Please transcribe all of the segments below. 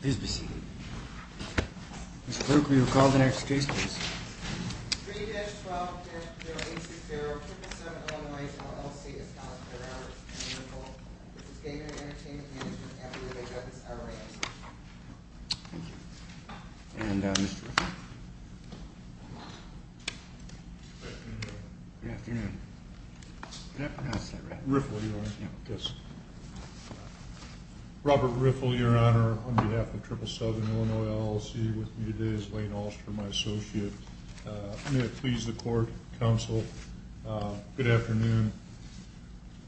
Please be seated. Mr. Clerk, will you call the next case, please? 3-12-086077 Illinois, LLC v. Gaming & Entertainment Management-Illinois, LLC Thank you. And Mr. Riffle. Good afternoon, Your Honor. Good afternoon. Did I pronounce that right? Riffle, Your Honor. Yes. Robert Riffle, Your Honor. On behalf of Triple Southern Illinois, LLC, with me today is Lane Alster, my associate. I'm going to please the court, counsel. Good afternoon.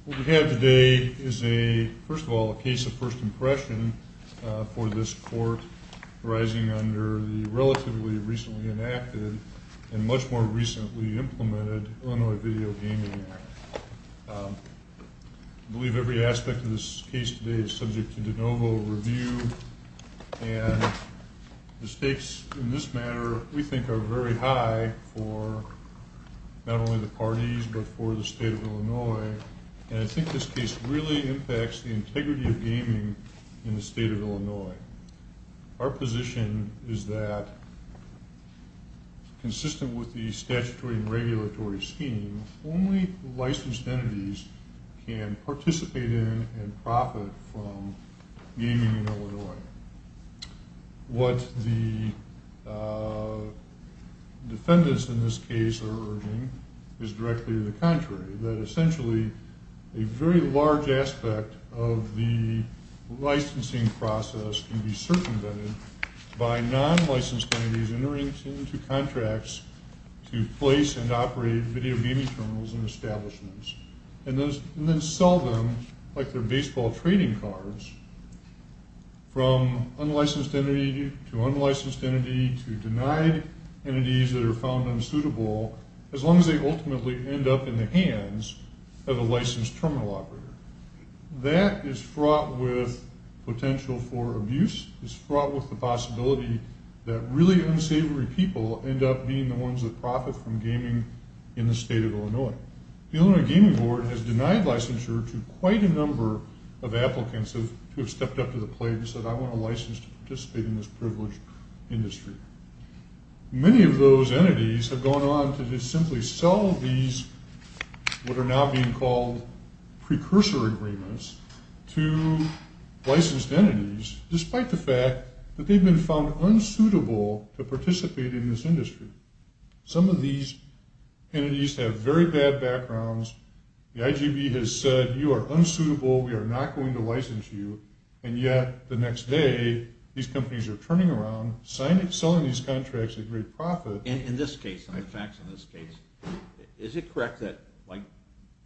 What we have today is a, first of all, a case of first impression for this court, arising under the relatively recently enacted and much more recently implemented Illinois Video Gaming Act. I believe every aspect of this case today is subject to de novo review, and the stakes in this matter, we think, are very high for not only the parties, but for the state of Illinois. And I think this case really impacts the integrity of gaming in the state of Illinois. Our position is that, consistent with the statutory and regulatory scheme, only licensed entities can participate in and profit from gaming in Illinois. What the defendants in this case are urging is directly the contrary, that essentially a very large aspect of the licensing process can be circumvented by non-licensed entities entering into contracts to place and operate video gaming terminals and establishments, and then sell them like they're baseball trading cards from unlicensed entity to unlicensed entity to denied entities that are found unsuitable, as long as they ultimately end up in the hands of a licensed terminal operator. That is fraught with potential for abuse, is fraught with the possibility that really unsavory people end up being the ones that profit from gaming in the state of Illinois. The Illinois Gaming Board has denied licensure to quite a number of applicants who have stepped up to the plate and said, I want a license to participate in this privileged industry. Many of those entities have gone on to simply sell these what are now being called precursor agreements to licensed entities, despite the fact that they've been found unsuitable to participate in this industry. Some of these entities have very bad backgrounds. The IGB has said, you are unsuitable, we are not going to license you. And yet, the next day, these companies are turning around, selling these contracts at great profit. In this case, the facts in this case, is it correct that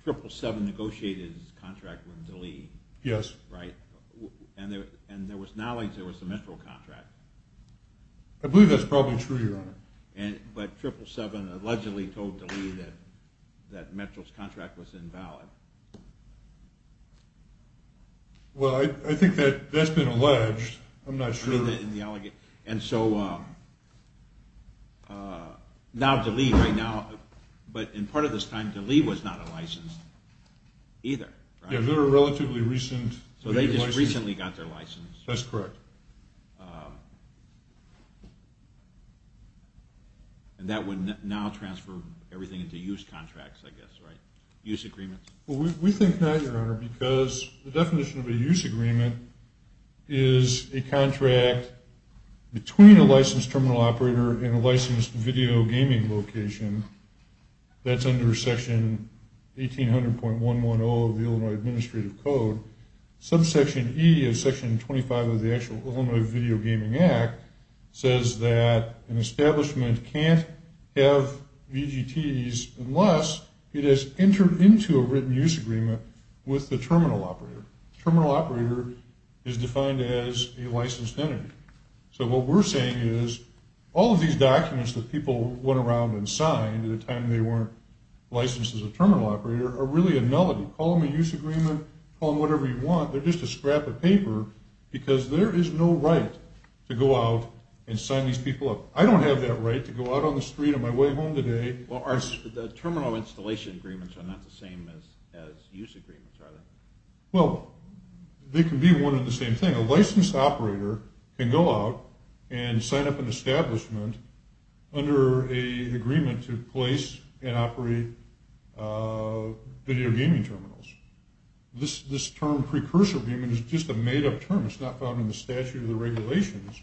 777 negotiated his contract with DeLee? Yes. Right? And there was knowledge there was a Metro contract. I believe that's probably true, Your Honor. But 777 allegedly told DeLee that Metro's contract was invalid. Well, I think that's been alleged. I'm not sure. And so, now DeLee right now, but in part of this time, DeLee was not a license either. Yeah, they were relatively recent. So they just recently got their license. That's correct. And that would now transfer everything into use contracts, I guess, right? We think not, Your Honor, because the definition of a use agreement is a contract between a licensed terminal operator and a licensed video gaming location. That's under Section 1800.110 of the Illinois Administrative Code. Subsection E of Section 25 of the Illinois Video Gaming Act says that an establishment can't have VGTs unless it has entered into a written use agreement with the terminal operator. Terminal operator is defined as a licensed entity. So what we're saying is all of these documents that people went around and signed at a time they weren't licensed as a terminal operator are really a nullity. Call them a use agreement. Call them whatever you want. They're just a scrap of paper because there is no right to go out and sign these people up. I don't have that right to go out on the street on my way home today. Well, the terminal installation agreements are not the same as use agreements, are they? Well, they can be one and the same thing. A licensed operator can go out and sign up an establishment under an agreement to place and operate video gaming terminals. This term precursor agreement is just a made-up term. It's not found in the statute or the regulations.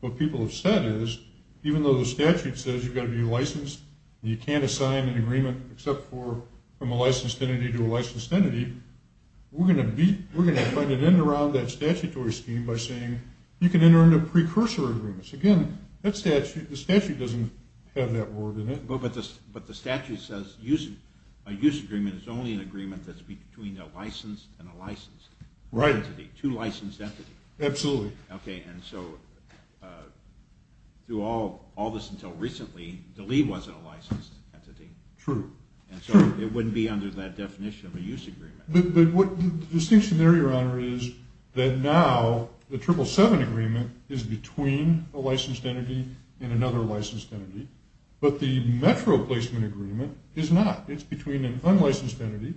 What people have said is even though the statute says you've got to be licensed and you can't assign an agreement except from a licensed entity to a licensed entity, we're going to butt an end around that statutory scheme by saying you can enter into precursor agreements. Again, the statute doesn't have that word in it. But the statute says a use agreement is only an agreement that's between a licensed and a licensed entity. Right. Two licensed entities. Absolutely. Okay, and so through all this until recently, the LEA wasn't a licensed entity. True. And so it wouldn't be under that definition of a use agreement. But the distinction there, Your Honor, is that now the 777 agreement is between a licensed entity and another licensed entity. But the metro placement agreement is not. It's between an unlicensed entity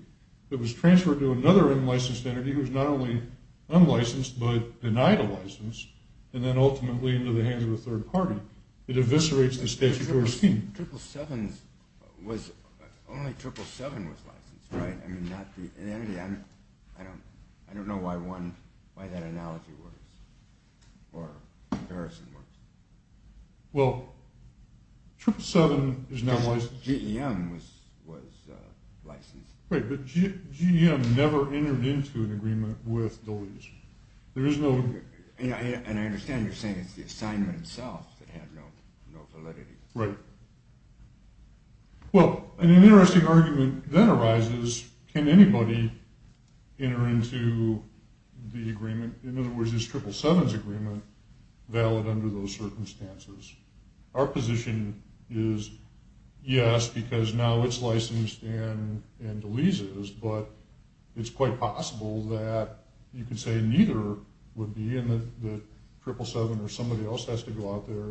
that was transferred to another unlicensed entity who's not only unlicensed but denied a license, and then ultimately into the hands of a third party. It eviscerates the statutory scheme. Only 777 was licensed, right? I mean, not the entity. I don't know why that analogy works or comparison works. Well, 777 is not licensed. GEM was licensed. Right, but GEM never entered into an agreement with the LEA. And I understand you're saying it's the assignment itself that had no validity. Right. Well, an interesting argument then arises, can anybody enter into the agreement, in other words, is 777's agreement valid under those circumstances? Our position is yes, because now it's licensed and deleases, but it's quite possible that you could say neither would be, I'm not saying that 777 or somebody else has to go out there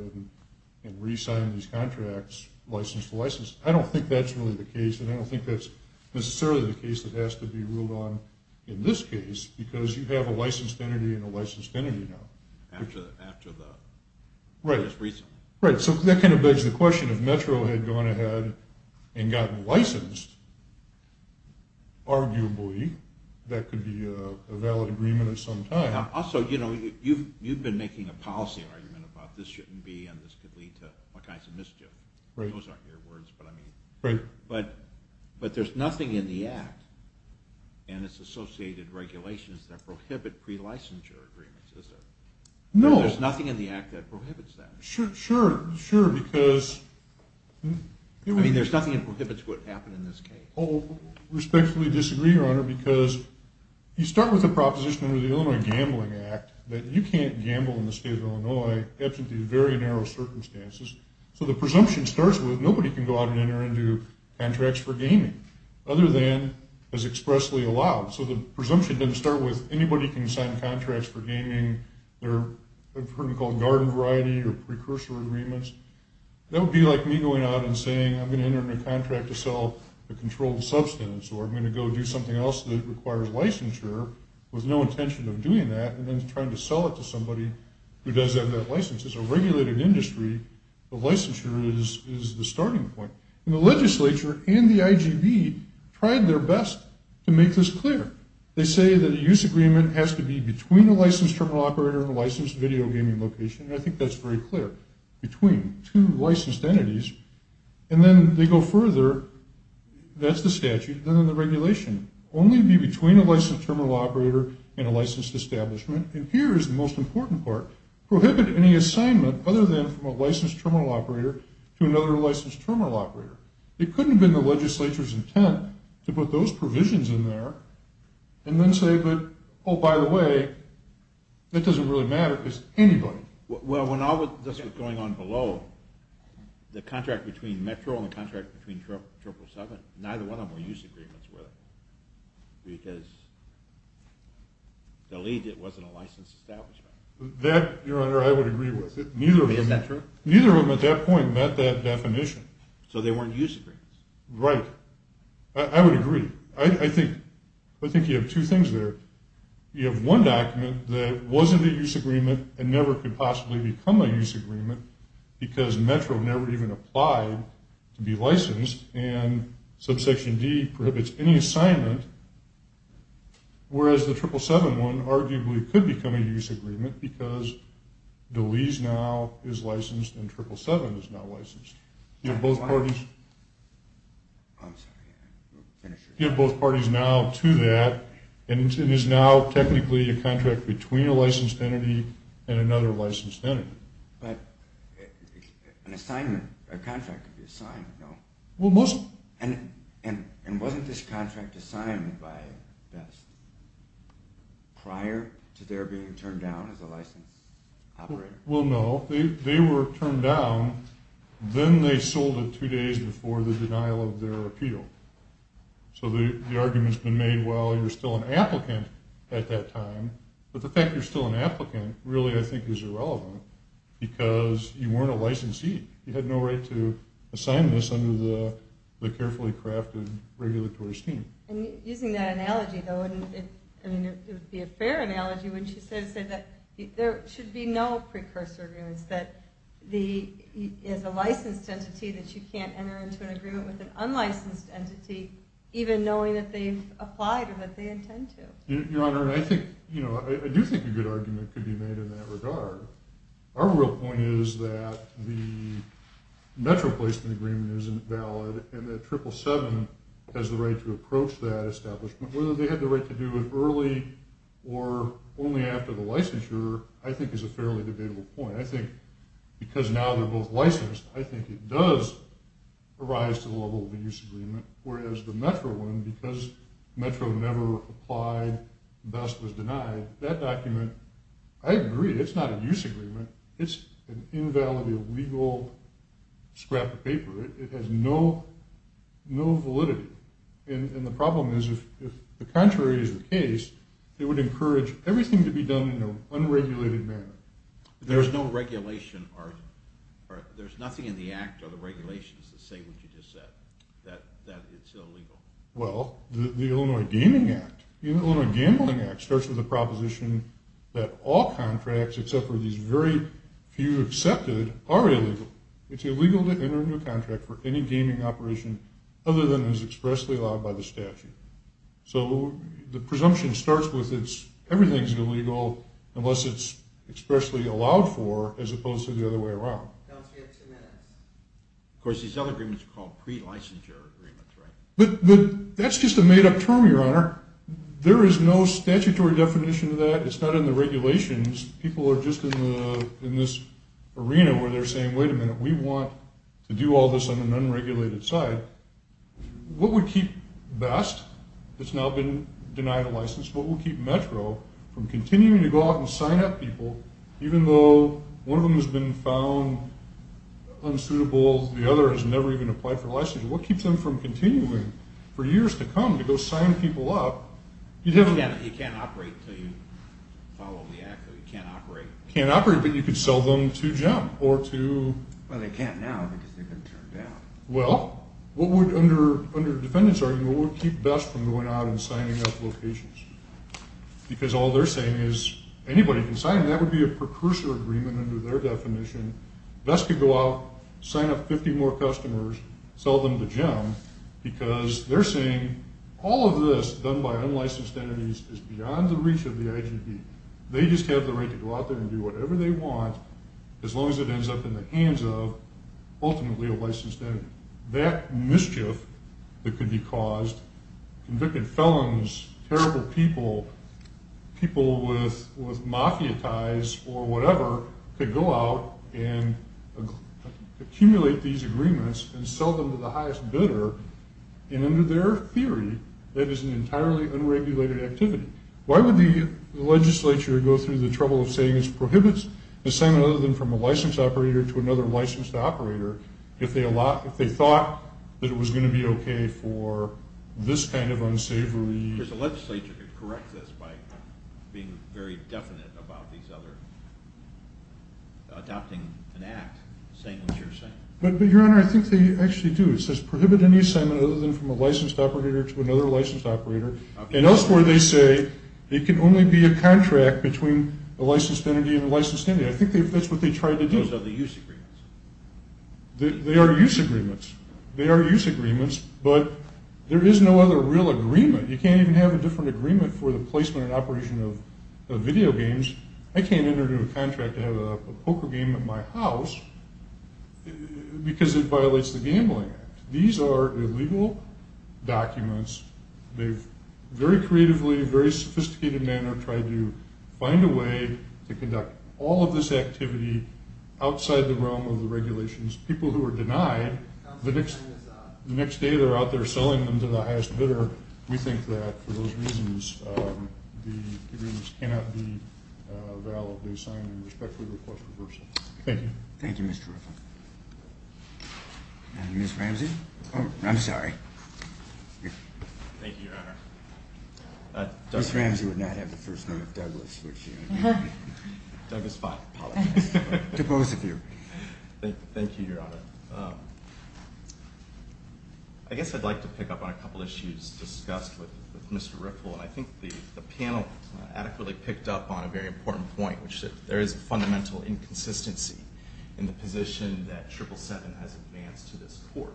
and re-sign these contracts, license to license. I don't think that's really the case, and I don't think that's necessarily the case that has to be ruled on in this case, because you have a licensed entity and a licensed entity now. After the most recent. Right, so that kind of begs the question, if metro had gone ahead and gotten licensed, arguably that could be a valid agreement at some time. Also, you've been making a policy argument about this shouldn't be and this could lead to all kinds of mischief. Those aren't your words, but I mean. Right. But there's nothing in the Act and its associated regulations that prohibit pre-licensure agreements, is there? No. There's nothing in the Act that prohibits that. Sure, sure, because. I mean, there's nothing that prohibits what happened in this case. I respectfully disagree, Your Honor, because you start with a proposition under the Illinois Gambling Act that you can't gamble in the state of Illinois in the absence of these very narrow circumstances. So the presumption starts with nobody can go out and enter into contracts for gaming other than as expressly allowed. So the presumption doesn't start with anybody can sign contracts for gaming. I've heard them called garden variety or precursor agreements. That would be like me going out and saying I'm going to enter into a contract to sell a controlled substance or I'm going to go do something else that requires licensure with no intention of doing that and then trying to sell it to somebody who does have that license. As a regulated industry, the licensure is the starting point. And the legislature and the IGB tried their best to make this clear. They say that a use agreement has to be between a licensed terminal operator and a licensed video gaming location, and I think that's very clear, between two licensed entities. And then they go further. That's the statute. Then the regulation, only be between a licensed terminal operator and a licensed establishment. And here is the most important part. Prohibit any assignment other than from a licensed terminal operator to another licensed terminal operator. It couldn't have been the legislature's intent to put those provisions in there and then say, oh, by the way, that doesn't really matter. It's anybody. Well, when all of this was going on below, the contract between Metro and the contract between Triple 7, neither one of them were use agreements with because the lead wasn't a licensed establishment. That, Your Honor, I would agree with. Neither of them at that point met that definition. So they weren't use agreements. Right. I would agree. I think you have two things there. You have one document that wasn't a use agreement and never could possibly become a use agreement because Metro never even applied to be licensed, and Subsection D prohibits any assignment, whereas the Triple 7 one arguably could become a use agreement because DeLease now is licensed and Triple 7 is now licensed. You have both parties? I'm sorry. You have both parties now to that, and it is now technically a contract between a licensed entity and another licensed entity. But an assignment, a contract could be assigned, no? Well, most... And wasn't this contract assigned by VEST prior to their being turned down as a licensed operator? Well, no. They were turned down. Then they sold it two days before the denial of their appeal. So the argument's been made, well, you're still an applicant at that time, but the fact you're still an applicant really I think is irrelevant because you weren't a licensee. You had no right to assign this under the carefully crafted regulatory scheme. And using that analogy, though, it would be a fair analogy when she says that there should be no precursor agreements, that there's a licensed entity that you can't enter into an agreement with an unlicensed entity even knowing that they've applied or that they intend to. Your Honor, I do think a good argument could be made in that regard. Our real point is that the Metro placement agreement isn't valid and that Triple 7 has the right to approach that establishment. Whether they had the right to do it early or only after the licensure I think is a fairly debatable point. I think because now they're both licensed, I think it does arise to the level of a use agreement, whereas the Metro one, because Metro never applied, BEST was denied, that document, I agree, it's not a use agreement. It's an invalid illegal scrap of paper. It has no validity. And the problem is if the contrary is the case, it would encourage everything to be done in an unregulated manner. There's no regulation or there's nothing in the act or the regulations that say what you just said, that it's illegal. Well, the Illinois Gaming Act, the Illinois Gambling Act starts with the proposition that all contracts except for these very few accepted are illegal. It's illegal to enter into a contract for any gaming operation other than is expressly allowed by the statute. So the presumption starts with everything's illegal unless it's expressly allowed for as opposed to the other way around. That's just a made up term, Your Honor. There is no statutory definition of that. It's not in the regulations. People are just in this arena where they're saying, wait a minute, we want to do all this on an unregulated side. What would keep BEST that's now been denied a license, what would keep Metro from continuing to go out and sign up people even though one of them has been found unsuitable, the other has never even applied for a license, what keeps them from continuing for years to come to go sign people up? You can't operate until you follow the act, so you can't operate. Can't operate, but you could sell them to JEM or to... Well, they can't now because they've been turned down. Well, what would, under the defendant's argument, what would keep BEST from going out and signing up locations? Because all they're saying is anybody can sign. That would be a precursor agreement under their definition. BEST could go out, sign up 50 more customers, sell them to JEM, because they're saying all of this done by unlicensed entities is beyond the reach of the IGB. They just have the right to go out there and do whatever they want as long as it ends up in the hands of ultimately a licensed entity. That mischief that could be caused, convicted felons, terrible people, people with mafia ties or whatever could go out and accumulate these agreements and sell them to the highest bidder, and under their theory, that is an entirely unregulated activity. Why would the legislature go through the trouble of saying it prohibits assignment other than from a licensed operator to another licensed operator if they thought that it was going to be okay for this kind of unsavory... Because the legislature could correct this by being very definite about these other... adopting an act, saying what you're saying. But, Your Honor, I think they actually do. It says prohibit any assignment other than from a licensed operator to another licensed operator. And elsewhere they say it can only be a contract between a licensed entity and a licensed entity. I think that's what they tried to do. Those are the use agreements. They are use agreements. They are use agreements, but there is no other real agreement. You can't even have a different agreement for the placement and operation of video games. I can't enter into a contract to have a poker game at my house because it violates the Gambling Act. These are illegal documents. They've very creatively, in a very sophisticated manner, tried to find a way to conduct all of this activity outside the realm of the regulations. People who are denied, the next day they're out there selling them to the highest bidder. We think that, for those reasons, the agreements cannot be valid. They sign and respectfully request reversal. Thank you. Thank you, Mr. Ruffin. And Ms. Ramsey? Oh, I'm sorry. Thank you, Your Honor. Ms. Ramsey would not have the first name of Douglas. Douglas Fott, apologies. To both of you. Thank you, Your Honor. I guess I'd like to pick up on a couple of issues discussed with Mr. Riffle, and I think the panel adequately picked up on a very important point, which is that there is a fundamental inconsistency in the position that 777 has advanced to this court.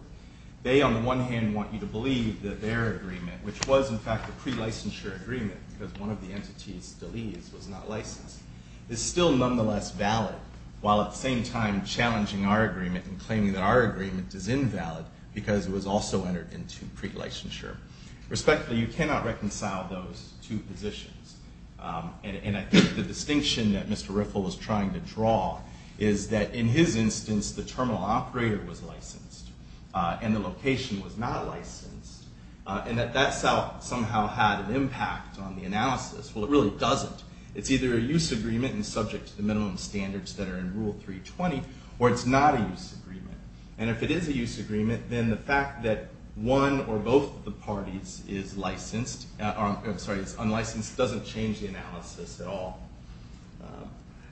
They, on the one hand, want you to believe that their agreement, which was, in fact, a pre-licensure agreement because one of the entities, Deliz, was not licensed, is still nonetheless valid, while at the same time challenging our agreement and claiming that our agreement is invalid because it was also entered into pre-licensure. Respectfully, you cannot reconcile those two positions, and I think the distinction that Mr. Riffle is trying to draw is that, in his instance, the terminal operator was licensed and the location was not licensed, and that that somehow had an impact on the analysis. Well, it really doesn't. It's either a use agreement and subject to the minimum standards that are in Rule 320, or it's not a use agreement. And if it is a use agreement, then the fact that one or both of the parties is licensed, or I'm sorry, is unlicensed, doesn't change the analysis at all.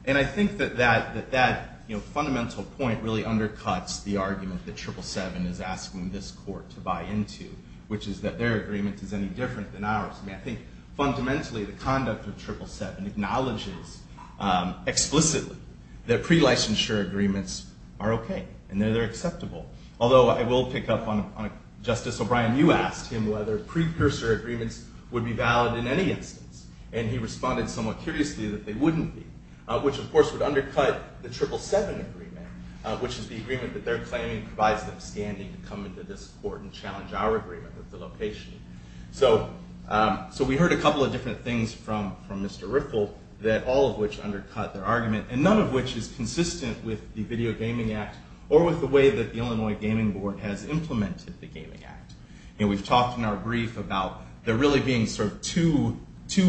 And I think that that fundamental point really undercuts the argument that 777 is asking this court to buy into, which is that their agreement is any different than ours. I mean, I think fundamentally the conduct of 777 acknowledges explicitly that pre-licensure agreements are okay and that they're acceptable, although I will pick up on Justice O'Brien. You asked him whether pre-cursor agreements would be valid in any instance, and he responded somewhat curiously that they wouldn't be, which, of course, would undercut the 777 agreement, which is the agreement that they're claiming provides them standing to come into this court and challenge our agreement with the location. So we heard a couple of different things from Mr. Riffle, all of which undercut their argument, and none of which is consistent with the Video Gaming Act or with the way that the Illinois Gaming Board has implemented the Gaming Act. We've talked in our brief about there really being sort of two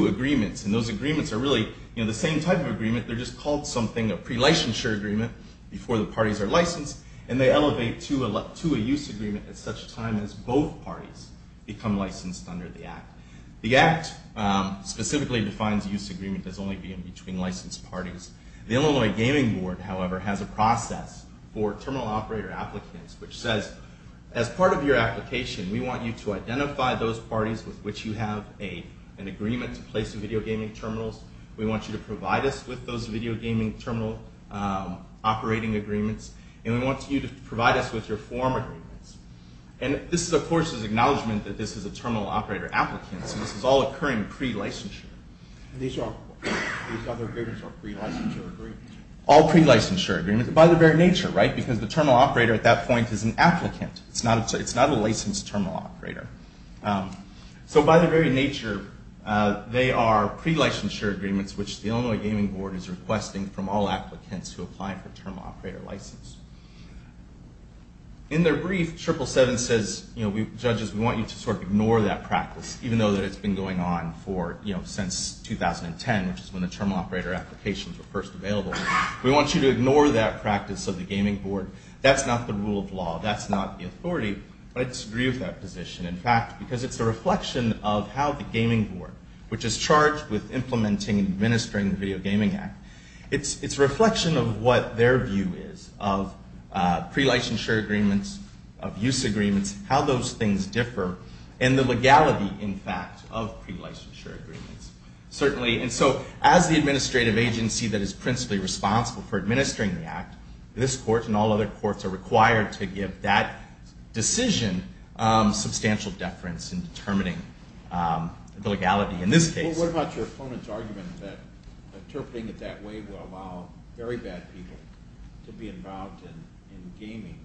agreements, and those agreements are really the same type of agreement. They're just called something a pre-licensure agreement before the parties are licensed, and they elevate to a use agreement at such time as both parties become licensed under the Act. The Act specifically defines use agreement as only being between licensed parties. The Illinois Gaming Board, however, has a process for terminal operator applicants, which says, as part of your application, we want you to identify those parties with which you have an agreement to place the video gaming terminals. We want you to provide us with those video gaming terminal operating agreements, and we want you to provide us with your form agreements. And this, of course, is acknowledgement that this is a terminal operator applicant, so this is all occurring pre-licensure. These other agreements are pre-licensure agreements? All pre-licensure agreements, by their very nature, right, because the terminal operator at that point is an applicant. It's not a licensed terminal operator. So by their very nature, they are pre-licensure agreements, which the Illinois Gaming Board is requesting from all applicants who apply for terminal operator license. In their brief, 777 says, you know, judges, we want you to sort of ignore that practice, even though it's been going on for, you know, since 2010, which is when the terminal operator applications were first available. We want you to ignore that practice of the Gaming Board. That's not the rule of law. That's not the authority. I disagree with that position, in fact, because it's a reflection of how the Gaming Board, which is charged with implementing and administering the Video Gaming Act, it's a reflection of what their view is of pre-licensure agreements, of use agreements, how those things differ, and the legality, in fact, of pre-licensure agreements. Certainly, and so as the administrative agency that is principally responsible for administering the act, this court and all other courts are required to give that decision substantial deference in determining the legality in this case. Well, what about your opponent's argument that interpreting it that way would allow very bad people to be involved in gaming,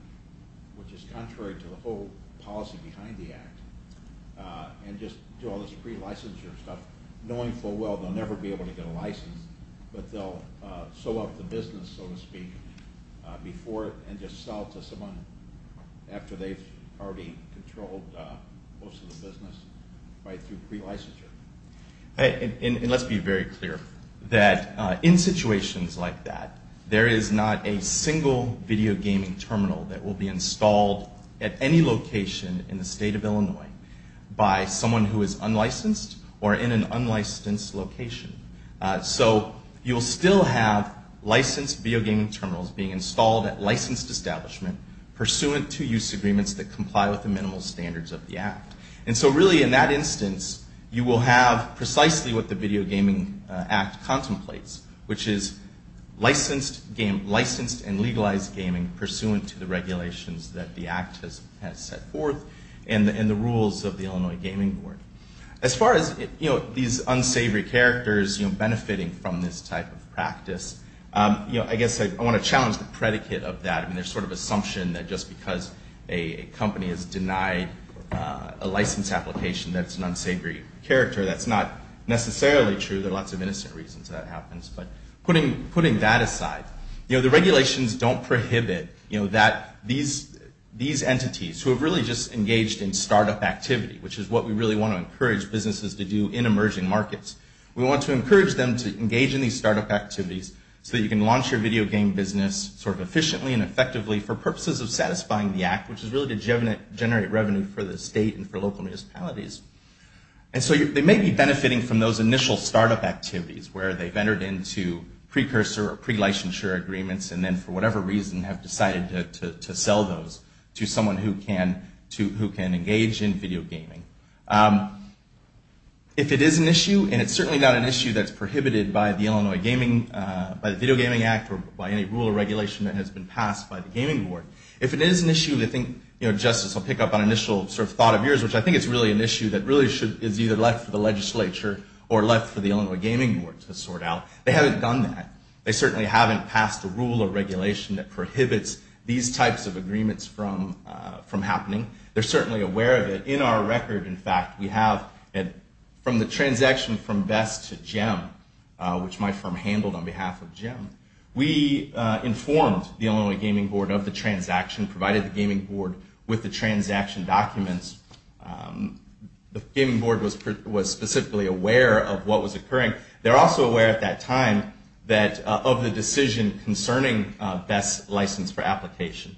which is contrary to the whole policy behind the act, and just do all this pre-licensure stuff, knowing full well they'll never be able to get a license, but they'll sew up the business, so to speak, before and just sell it to someone after they've already controlled most of the business right through pre-licensure? And let's be very clear that in situations like that, there is not a single video gaming terminal that will be installed at any location in the state of Illinois by someone who is unlicensed or in an unlicensed location. So you'll still have licensed video gaming terminals being installed at licensed establishment pursuant to use agreements that comply with the minimal standards of the act. And so really in that instance, you will have precisely what the Video Gaming Act contemplates, which is licensed and legalized gaming pursuant to the regulations that the act has set forth and the rules of the Illinois Gaming Board. As far as these unsavory characters benefiting from this type of practice, I guess I want to challenge the predicate of that. I mean, there's sort of assumption that just because a company has denied a license application that it's an unsavory character, that's not necessarily true. There are lots of innocent reasons that happens, but putting that aside, the regulations don't prohibit these entities who have really just engaged in startup activity, which is what we really want to encourage businesses to do in emerging markets. We want to encourage them to engage in these startup activities so that you can launch your video game business sort of efficiently and effectively for purposes of satisfying the act, which is really to generate revenue for the state and for local municipalities. And so they may be benefiting from those initial startup activities where they've entered into precursor or pre-licensure agreements and then for whatever reason have decided to sell those to someone who can engage in video gaming. If it is an issue, and it's certainly not an issue that's prohibited by the Illinois Gaming, by the Video Gaming Act or by any rule or regulation that has been passed by the Gaming Board, if it is an issue, I think, you know, Justice, I'll pick up on an initial sort of thought of yours, which I think is really an issue that really is either left for the legislature or left for the Illinois Gaming Board to sort out. They haven't done that. They certainly haven't passed a rule or regulation that prohibits these types of agreements from happening. They're certainly aware of it. In our record, in fact, we have from the transaction from Vest to Gem, which my firm handled on behalf of Gem, we informed the Illinois Gaming Board of the transaction, provided the Gaming Board with the transaction documents. The Gaming Board was specifically aware of what was occurring. They're also aware at that time of the decision concerning Vest's license for application.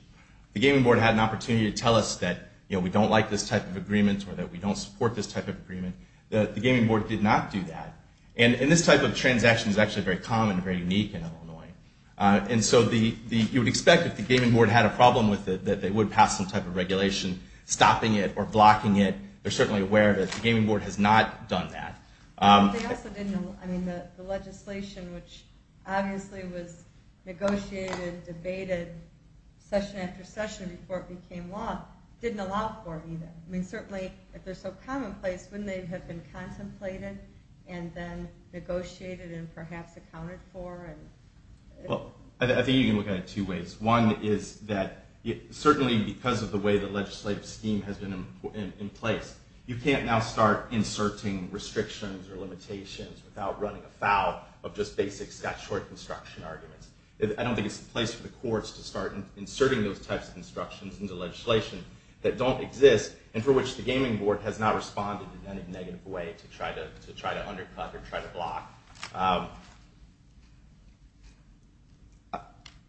The Gaming Board had an opportunity to tell us that, you know, we don't like this type of agreement or that we don't support this type of agreement. The Gaming Board did not do that. And this type of transaction is actually very common and very unique in Illinois. And so you would expect if the Gaming Board had a problem with it that they would pass some type of regulation stopping it or blocking it. They're certainly aware of it. The Gaming Board has not done that. They also didn't. I mean, the legislation, which obviously was negotiated and debated session after session before it became law, didn't allow for it either. I mean, certainly if they're so commonplace, wouldn't they have been contemplated and then negotiated and perhaps accounted for? Well, I think you can look at it two ways. One is that certainly because of the way the legislative scheme has been in place, you can't now start inserting restrictions or limitations without running afoul of just basic statutory construction arguments. I don't think it's the place for the courts to start inserting those types of instructions into legislation that don't exist and for which the Gaming Board has not responded in any negative way to try to undercut or try to block.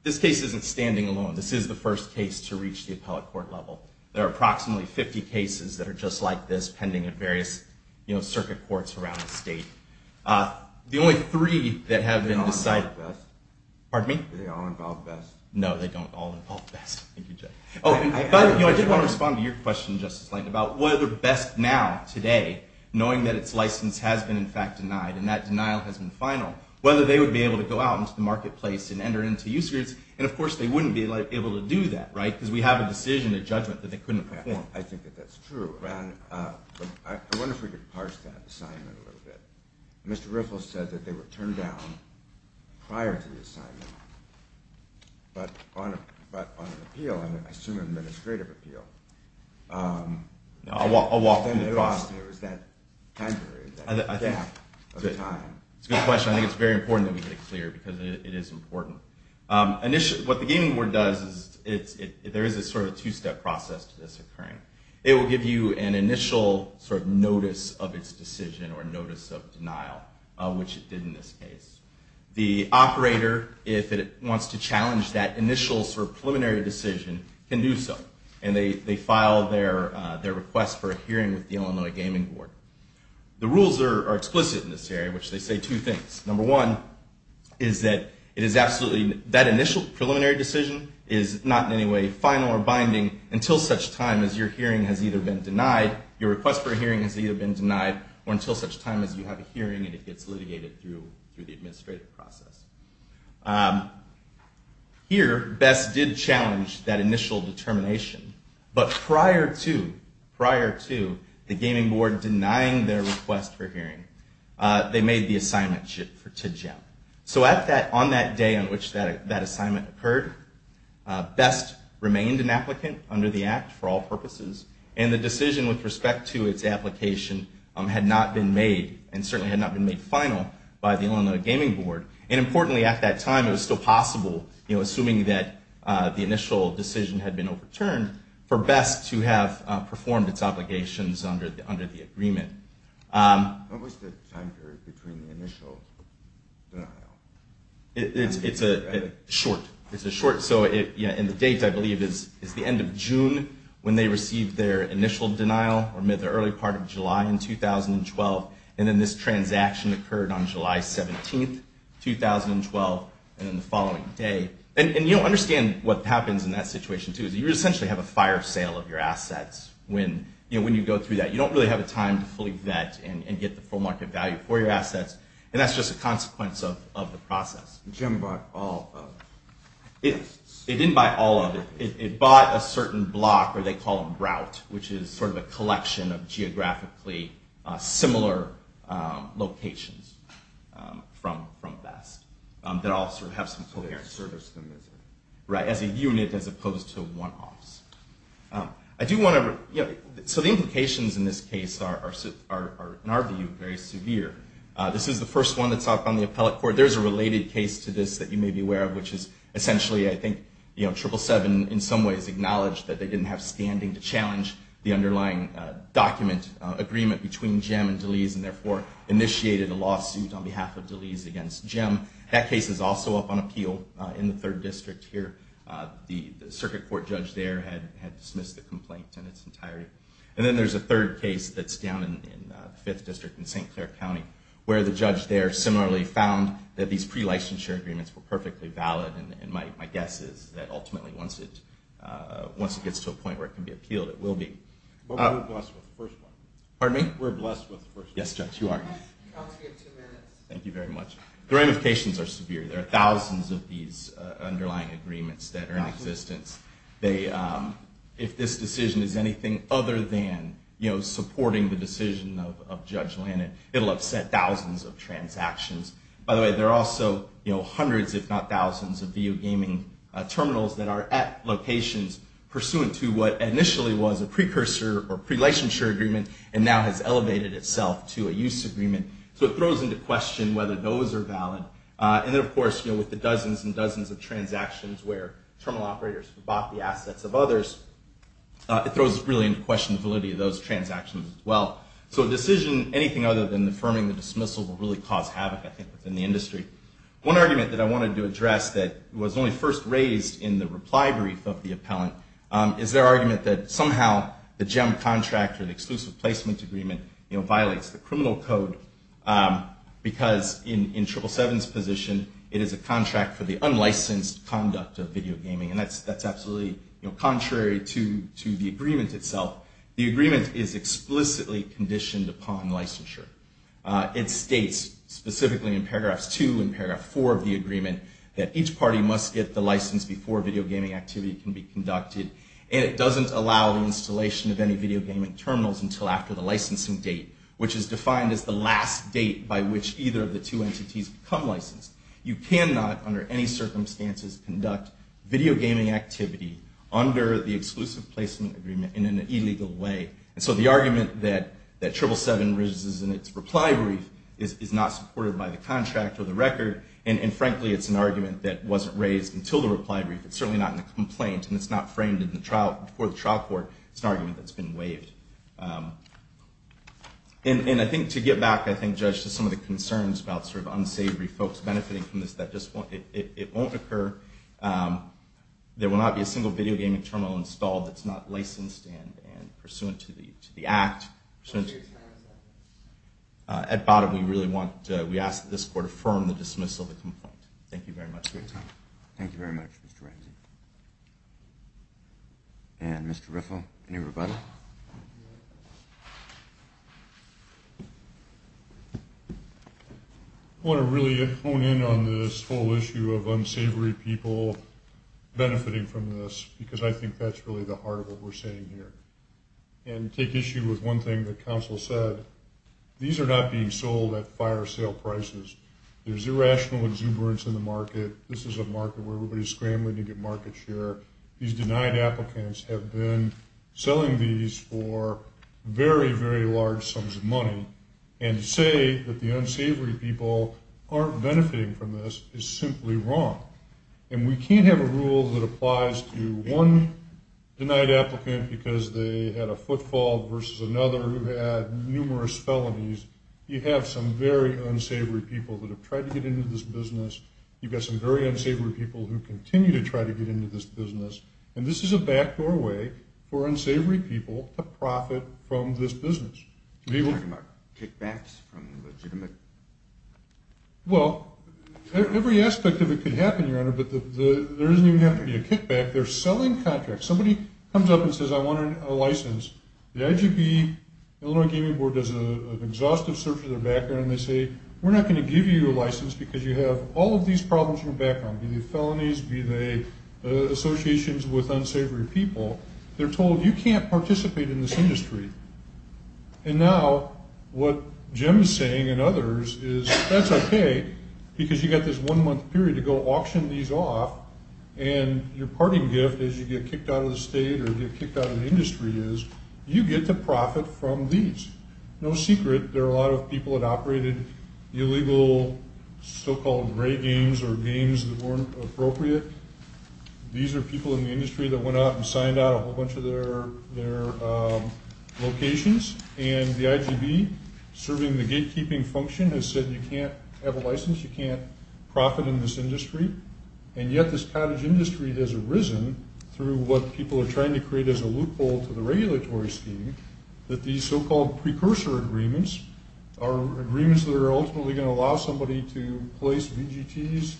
This case isn't standing alone. This is the first case to reach the appellate court level. There are approximately 50 cases that are just like this pending at various circuit courts around the state. The only three that have been decided... They all involve BESC. Pardon me? They all involve BESC. No, they don't all involve BESC. Thank you, Jeff. I did want to respond to your question, Justice Langton, about whether BESC now, today, knowing that its license has been in fact denied and that denial has been final, whether they would be able to go out into the marketplace and enter into use groups. And of course, they wouldn't be able to do that, right? Because we have a decision, a judgment that they couldn't perform. I think that that's true. I wonder if we could parse that assignment a little bit. But on an appeal, I assume an administrative appeal... I'll walk you across. There was that time period, that gap of time. That's a good question. I think it's very important that we make it clear because it is important. What the Gaming Board does is there is a sort of two-step process to this occurring. It will give you an initial sort of notice of its decision or notice of denial, which it did in this case. The operator, if it wants to challenge that initial sort of preliminary decision, can do so. And they file their request for a hearing with the Illinois Gaming Board. The rules are explicit in this area, which they say two things. Number one is that it is absolutely... that initial preliminary decision is not in any way final or binding until such time as your hearing has either been denied, your request for a hearing has either been denied, or until such time as you have a hearing and it gets litigated through the administrative process. Here, BEST did challenge that initial determination. But prior to the Gaming Board denying their request for a hearing, they made the assignment for TIDGEM. So on that day on which that assignment occurred, BEST remained an applicant under the Act for all purposes. And the decision with respect to its application had not been made, and certainly had not been made final, by the Illinois Gaming Board. And importantly, at that time, it was still possible, assuming that the initial decision had been overturned, for BEST to have performed its obligations under the agreement. What was the time period between the initial denial? It's short. And the date, I believe, is the end of June, when they received their initial denial, or mid to early part of July in 2012. And then this transaction occurred on July 17, 2012, and then the following day. And you don't understand what happens in that situation, too. You essentially have a fire sale of your assets when you go through that. You don't really have the time to fully vet and get the full market value for your assets. And that's just a consequence of the process. Jim bought all of it. It didn't buy all of it. It bought a certain block, or they call them grout, which is sort of a collection of geographically similar locations from BEST, that all sort of have some coherence. So they service them as a unit. Right, as a unit, as opposed to one-offs. So the implications in this case are, in our view, very severe. This is the first one that's up on the appellate court. There's a related case to this that you may be aware of, which is essentially, I think, 777 in some ways acknowledged that they didn't have standing to challenge the underlying document agreement between Jim and DeLees, and therefore initiated a lawsuit on behalf of DeLees against Jim. That case is also up on appeal in the third district here. The circuit court judge there had dismissed the complaint in its entirety. And then there's a third case that's down in the fifth district in St. Clair County, where the judge there similarly found that these pre-licensure agreements were perfectly valid. And my guess is that ultimately, once it gets to a point where it can be appealed, it will be. But we're blessed with the first one. Pardon me? We're blessed with the first one. Yes, Judge, you are. You have two minutes. Thank you very much. The ramifications are severe. There are thousands of these underlying agreements that are in existence. If this decision is anything other than supporting the decision of Judge Lannan, it will upset thousands of transactions. By the way, there are also hundreds, if not thousands, of video gaming terminals that are at locations pursuant to what initially was a precursor or pre-licensure agreement and now has elevated itself to a use agreement. So it throws into question whether those are valid. And then, of course, with the dozens and dozens of transactions where terminal operators bought the assets of others, it throws really into question the validity of those transactions as well. So a decision, anything other than affirming the dismissal, will really cause havoc, I think, within the industry. One argument that I wanted to address that was only first raised in the reply brief of the appellant is their argument that somehow the GEM contract or the Exclusive Placement Agreement violates the criminal code because in 777's position, it is a contract for the unlicensed conduct of video gaming. And that's absolutely contrary to the agreement itself. The agreement is explicitly conditioned upon licensure. It states, specifically in paragraphs 2 and paragraph 4 of the agreement, that each party must get the license before video gaming activity can be conducted. And it doesn't allow the installation of any video gaming terminals until after the licensing date, which is defined as the last date by which either of the two entities become licensed. You cannot, under any circumstances, conduct video gaming activity under the Exclusive Placement Agreement in an illegal way. And so the argument that 777 raises in its reply brief is not supported by the contract or the record. And frankly, it's an argument that wasn't raised until the reply brief. It's certainly not in the complaint, and it's not framed before the trial court. It's an argument that's been waived. And I think to get back, I think, Judge, to some of the concerns about unsavory folks benefiting from this, that it won't occur. There will not be a single video gaming terminal installed that's not licensed and pursuant to the act. At bottom, we ask that this court affirm the dismissal of the complaint. Thank you very much for your time. Thank you very much, Mr. Ramsey. And Mr. Riffle, any rebuttal? I want to really hone in on this whole issue of unsavory people benefiting from this, because I think that's really the heart of what we're saying here, and take issue with one thing that counsel said. These are not being sold at fire sale prices. There's irrational exuberance in the market. This is a market where everybody's scrambling to get market share. These denied applicants have been selling these for very, very large sums of money, and to say that the unsavory people aren't benefiting from this is simply wrong. And we can't have a rule that applies to one denied applicant because they had a footfall versus another who had numerous felonies. You have some very unsavory people that have tried to get into this business. You've got some very unsavory people who continue to try to get into this business, and this is a backdoor way for unsavory people to profit from this business. Are you talking about kickbacks from legitimate? Well, every aspect of it could happen, Your Honor, but there doesn't even have to be a kickback. They're selling contracts. Somebody comes up and says, I want a license. The IGB, Illinois Gaming Board, does an exhaustive search of their background, and they say, we're not going to give you a license because you have all of these problems in your background, be they felonies, be they associations with unsavory people. They're told you can't participate in this industry. And now what Jim is saying and others is that's okay because you've got this one-month period to go auction these off, and your parting gift as you get kicked out of the state or get kicked out of the industry is you get to profit from these. No secret, there are a lot of people that operated illegal so-called gray games or games that weren't appropriate. These are people in the industry that went out and signed out a whole bunch of their locations, and the IGB, serving the gatekeeping function, has said you can't have a license, you can't profit in this industry. And yet this cottage industry has arisen through what people are trying to create as a loophole to the regulatory scheme that these so-called precursor agreements are agreements that are ultimately going to allow somebody to place VGTs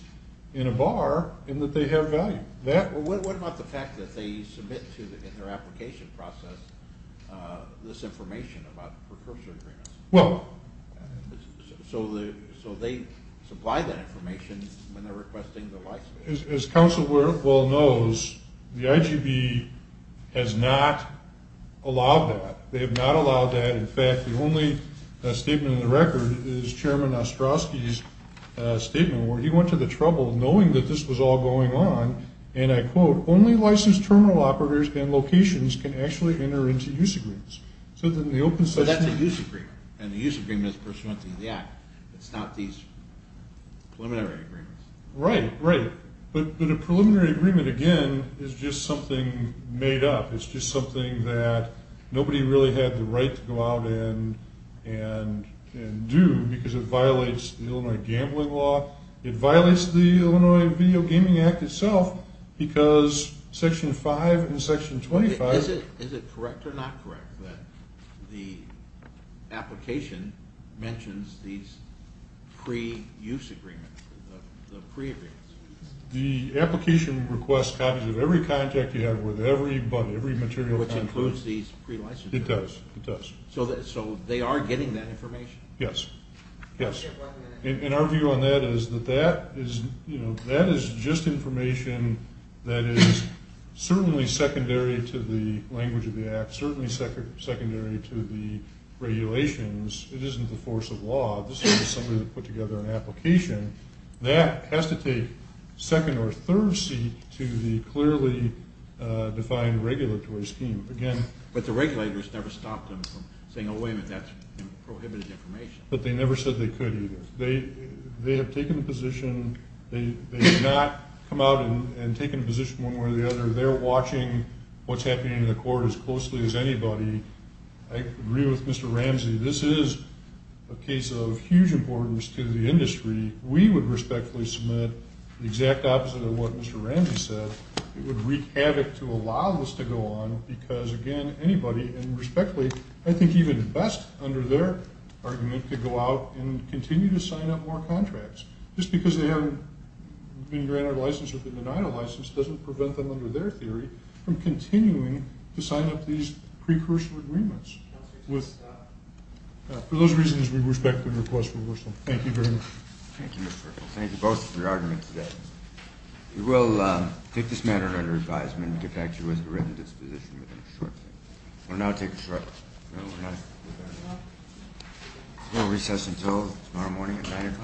in a bar and that they have value. What about the fact that they submit in their application process this information about precursor agreements? Well... So they supply that information when they're requesting the license. As Council well knows, the IGB has not allowed that. They have not allowed that. In fact, the only statement in the record is Chairman Ostrowski's statement where he went to the trouble of knowing that this was all going on, and I quote, only licensed terminal operators and locations can actually enter into use agreements. So that's a use agreement, and the use agreement is pursuant to the act. It's not these preliminary agreements. Right, right. But a preliminary agreement, again, is just something made up. It's just something that nobody really had the right to go out and do because it violates the Illinois Gambling Law. It violates the Illinois Video Gaming Act itself because Section 5 and Section 25... Is it correct or not correct that the application mentions these pre-use agreements, the pre-agreements? The application requests copies of every contract you have with every material company. Which includes these pre-licensure agreements. It does, it does. So they are getting that information? Yes, yes. And our view on that is that that is just information that is certainly secondary to the language of the act, certainly secondary to the regulations. It isn't the force of law. This isn't somebody that put together an application. That has to take second or third seat to the clearly defined regulatory scheme. But the regulators never stopped them from saying, oh, wait a minute, that's prohibited information. But they never said they could either. They have taken a position, they have not come out and taken a position one way or the other. They're watching what's happening in the court as closely as anybody. I agree with Mr. Ramsey. This is a case of huge importance to the industry. We would respectfully submit the exact opposite of what Mr. Ramsey said. It would wreak havoc to allow this to go on because, again, anybody, and respectfully, I think even best under their argument to go out and continue to sign up more contracts. Just because they haven't been granted a license or been denied a license doesn't prevent them, under their theory, from continuing to sign up these precursor agreements. For those reasons, we respectfully request reversal. Thank you very much. Thank you, Mr. Ricketts. Thank you both for your arguments today. We will take this matter under advisement and get back to you with a written disposition within a short time. We will now take a short break. We will recess until tomorrow morning at 9 o'clock.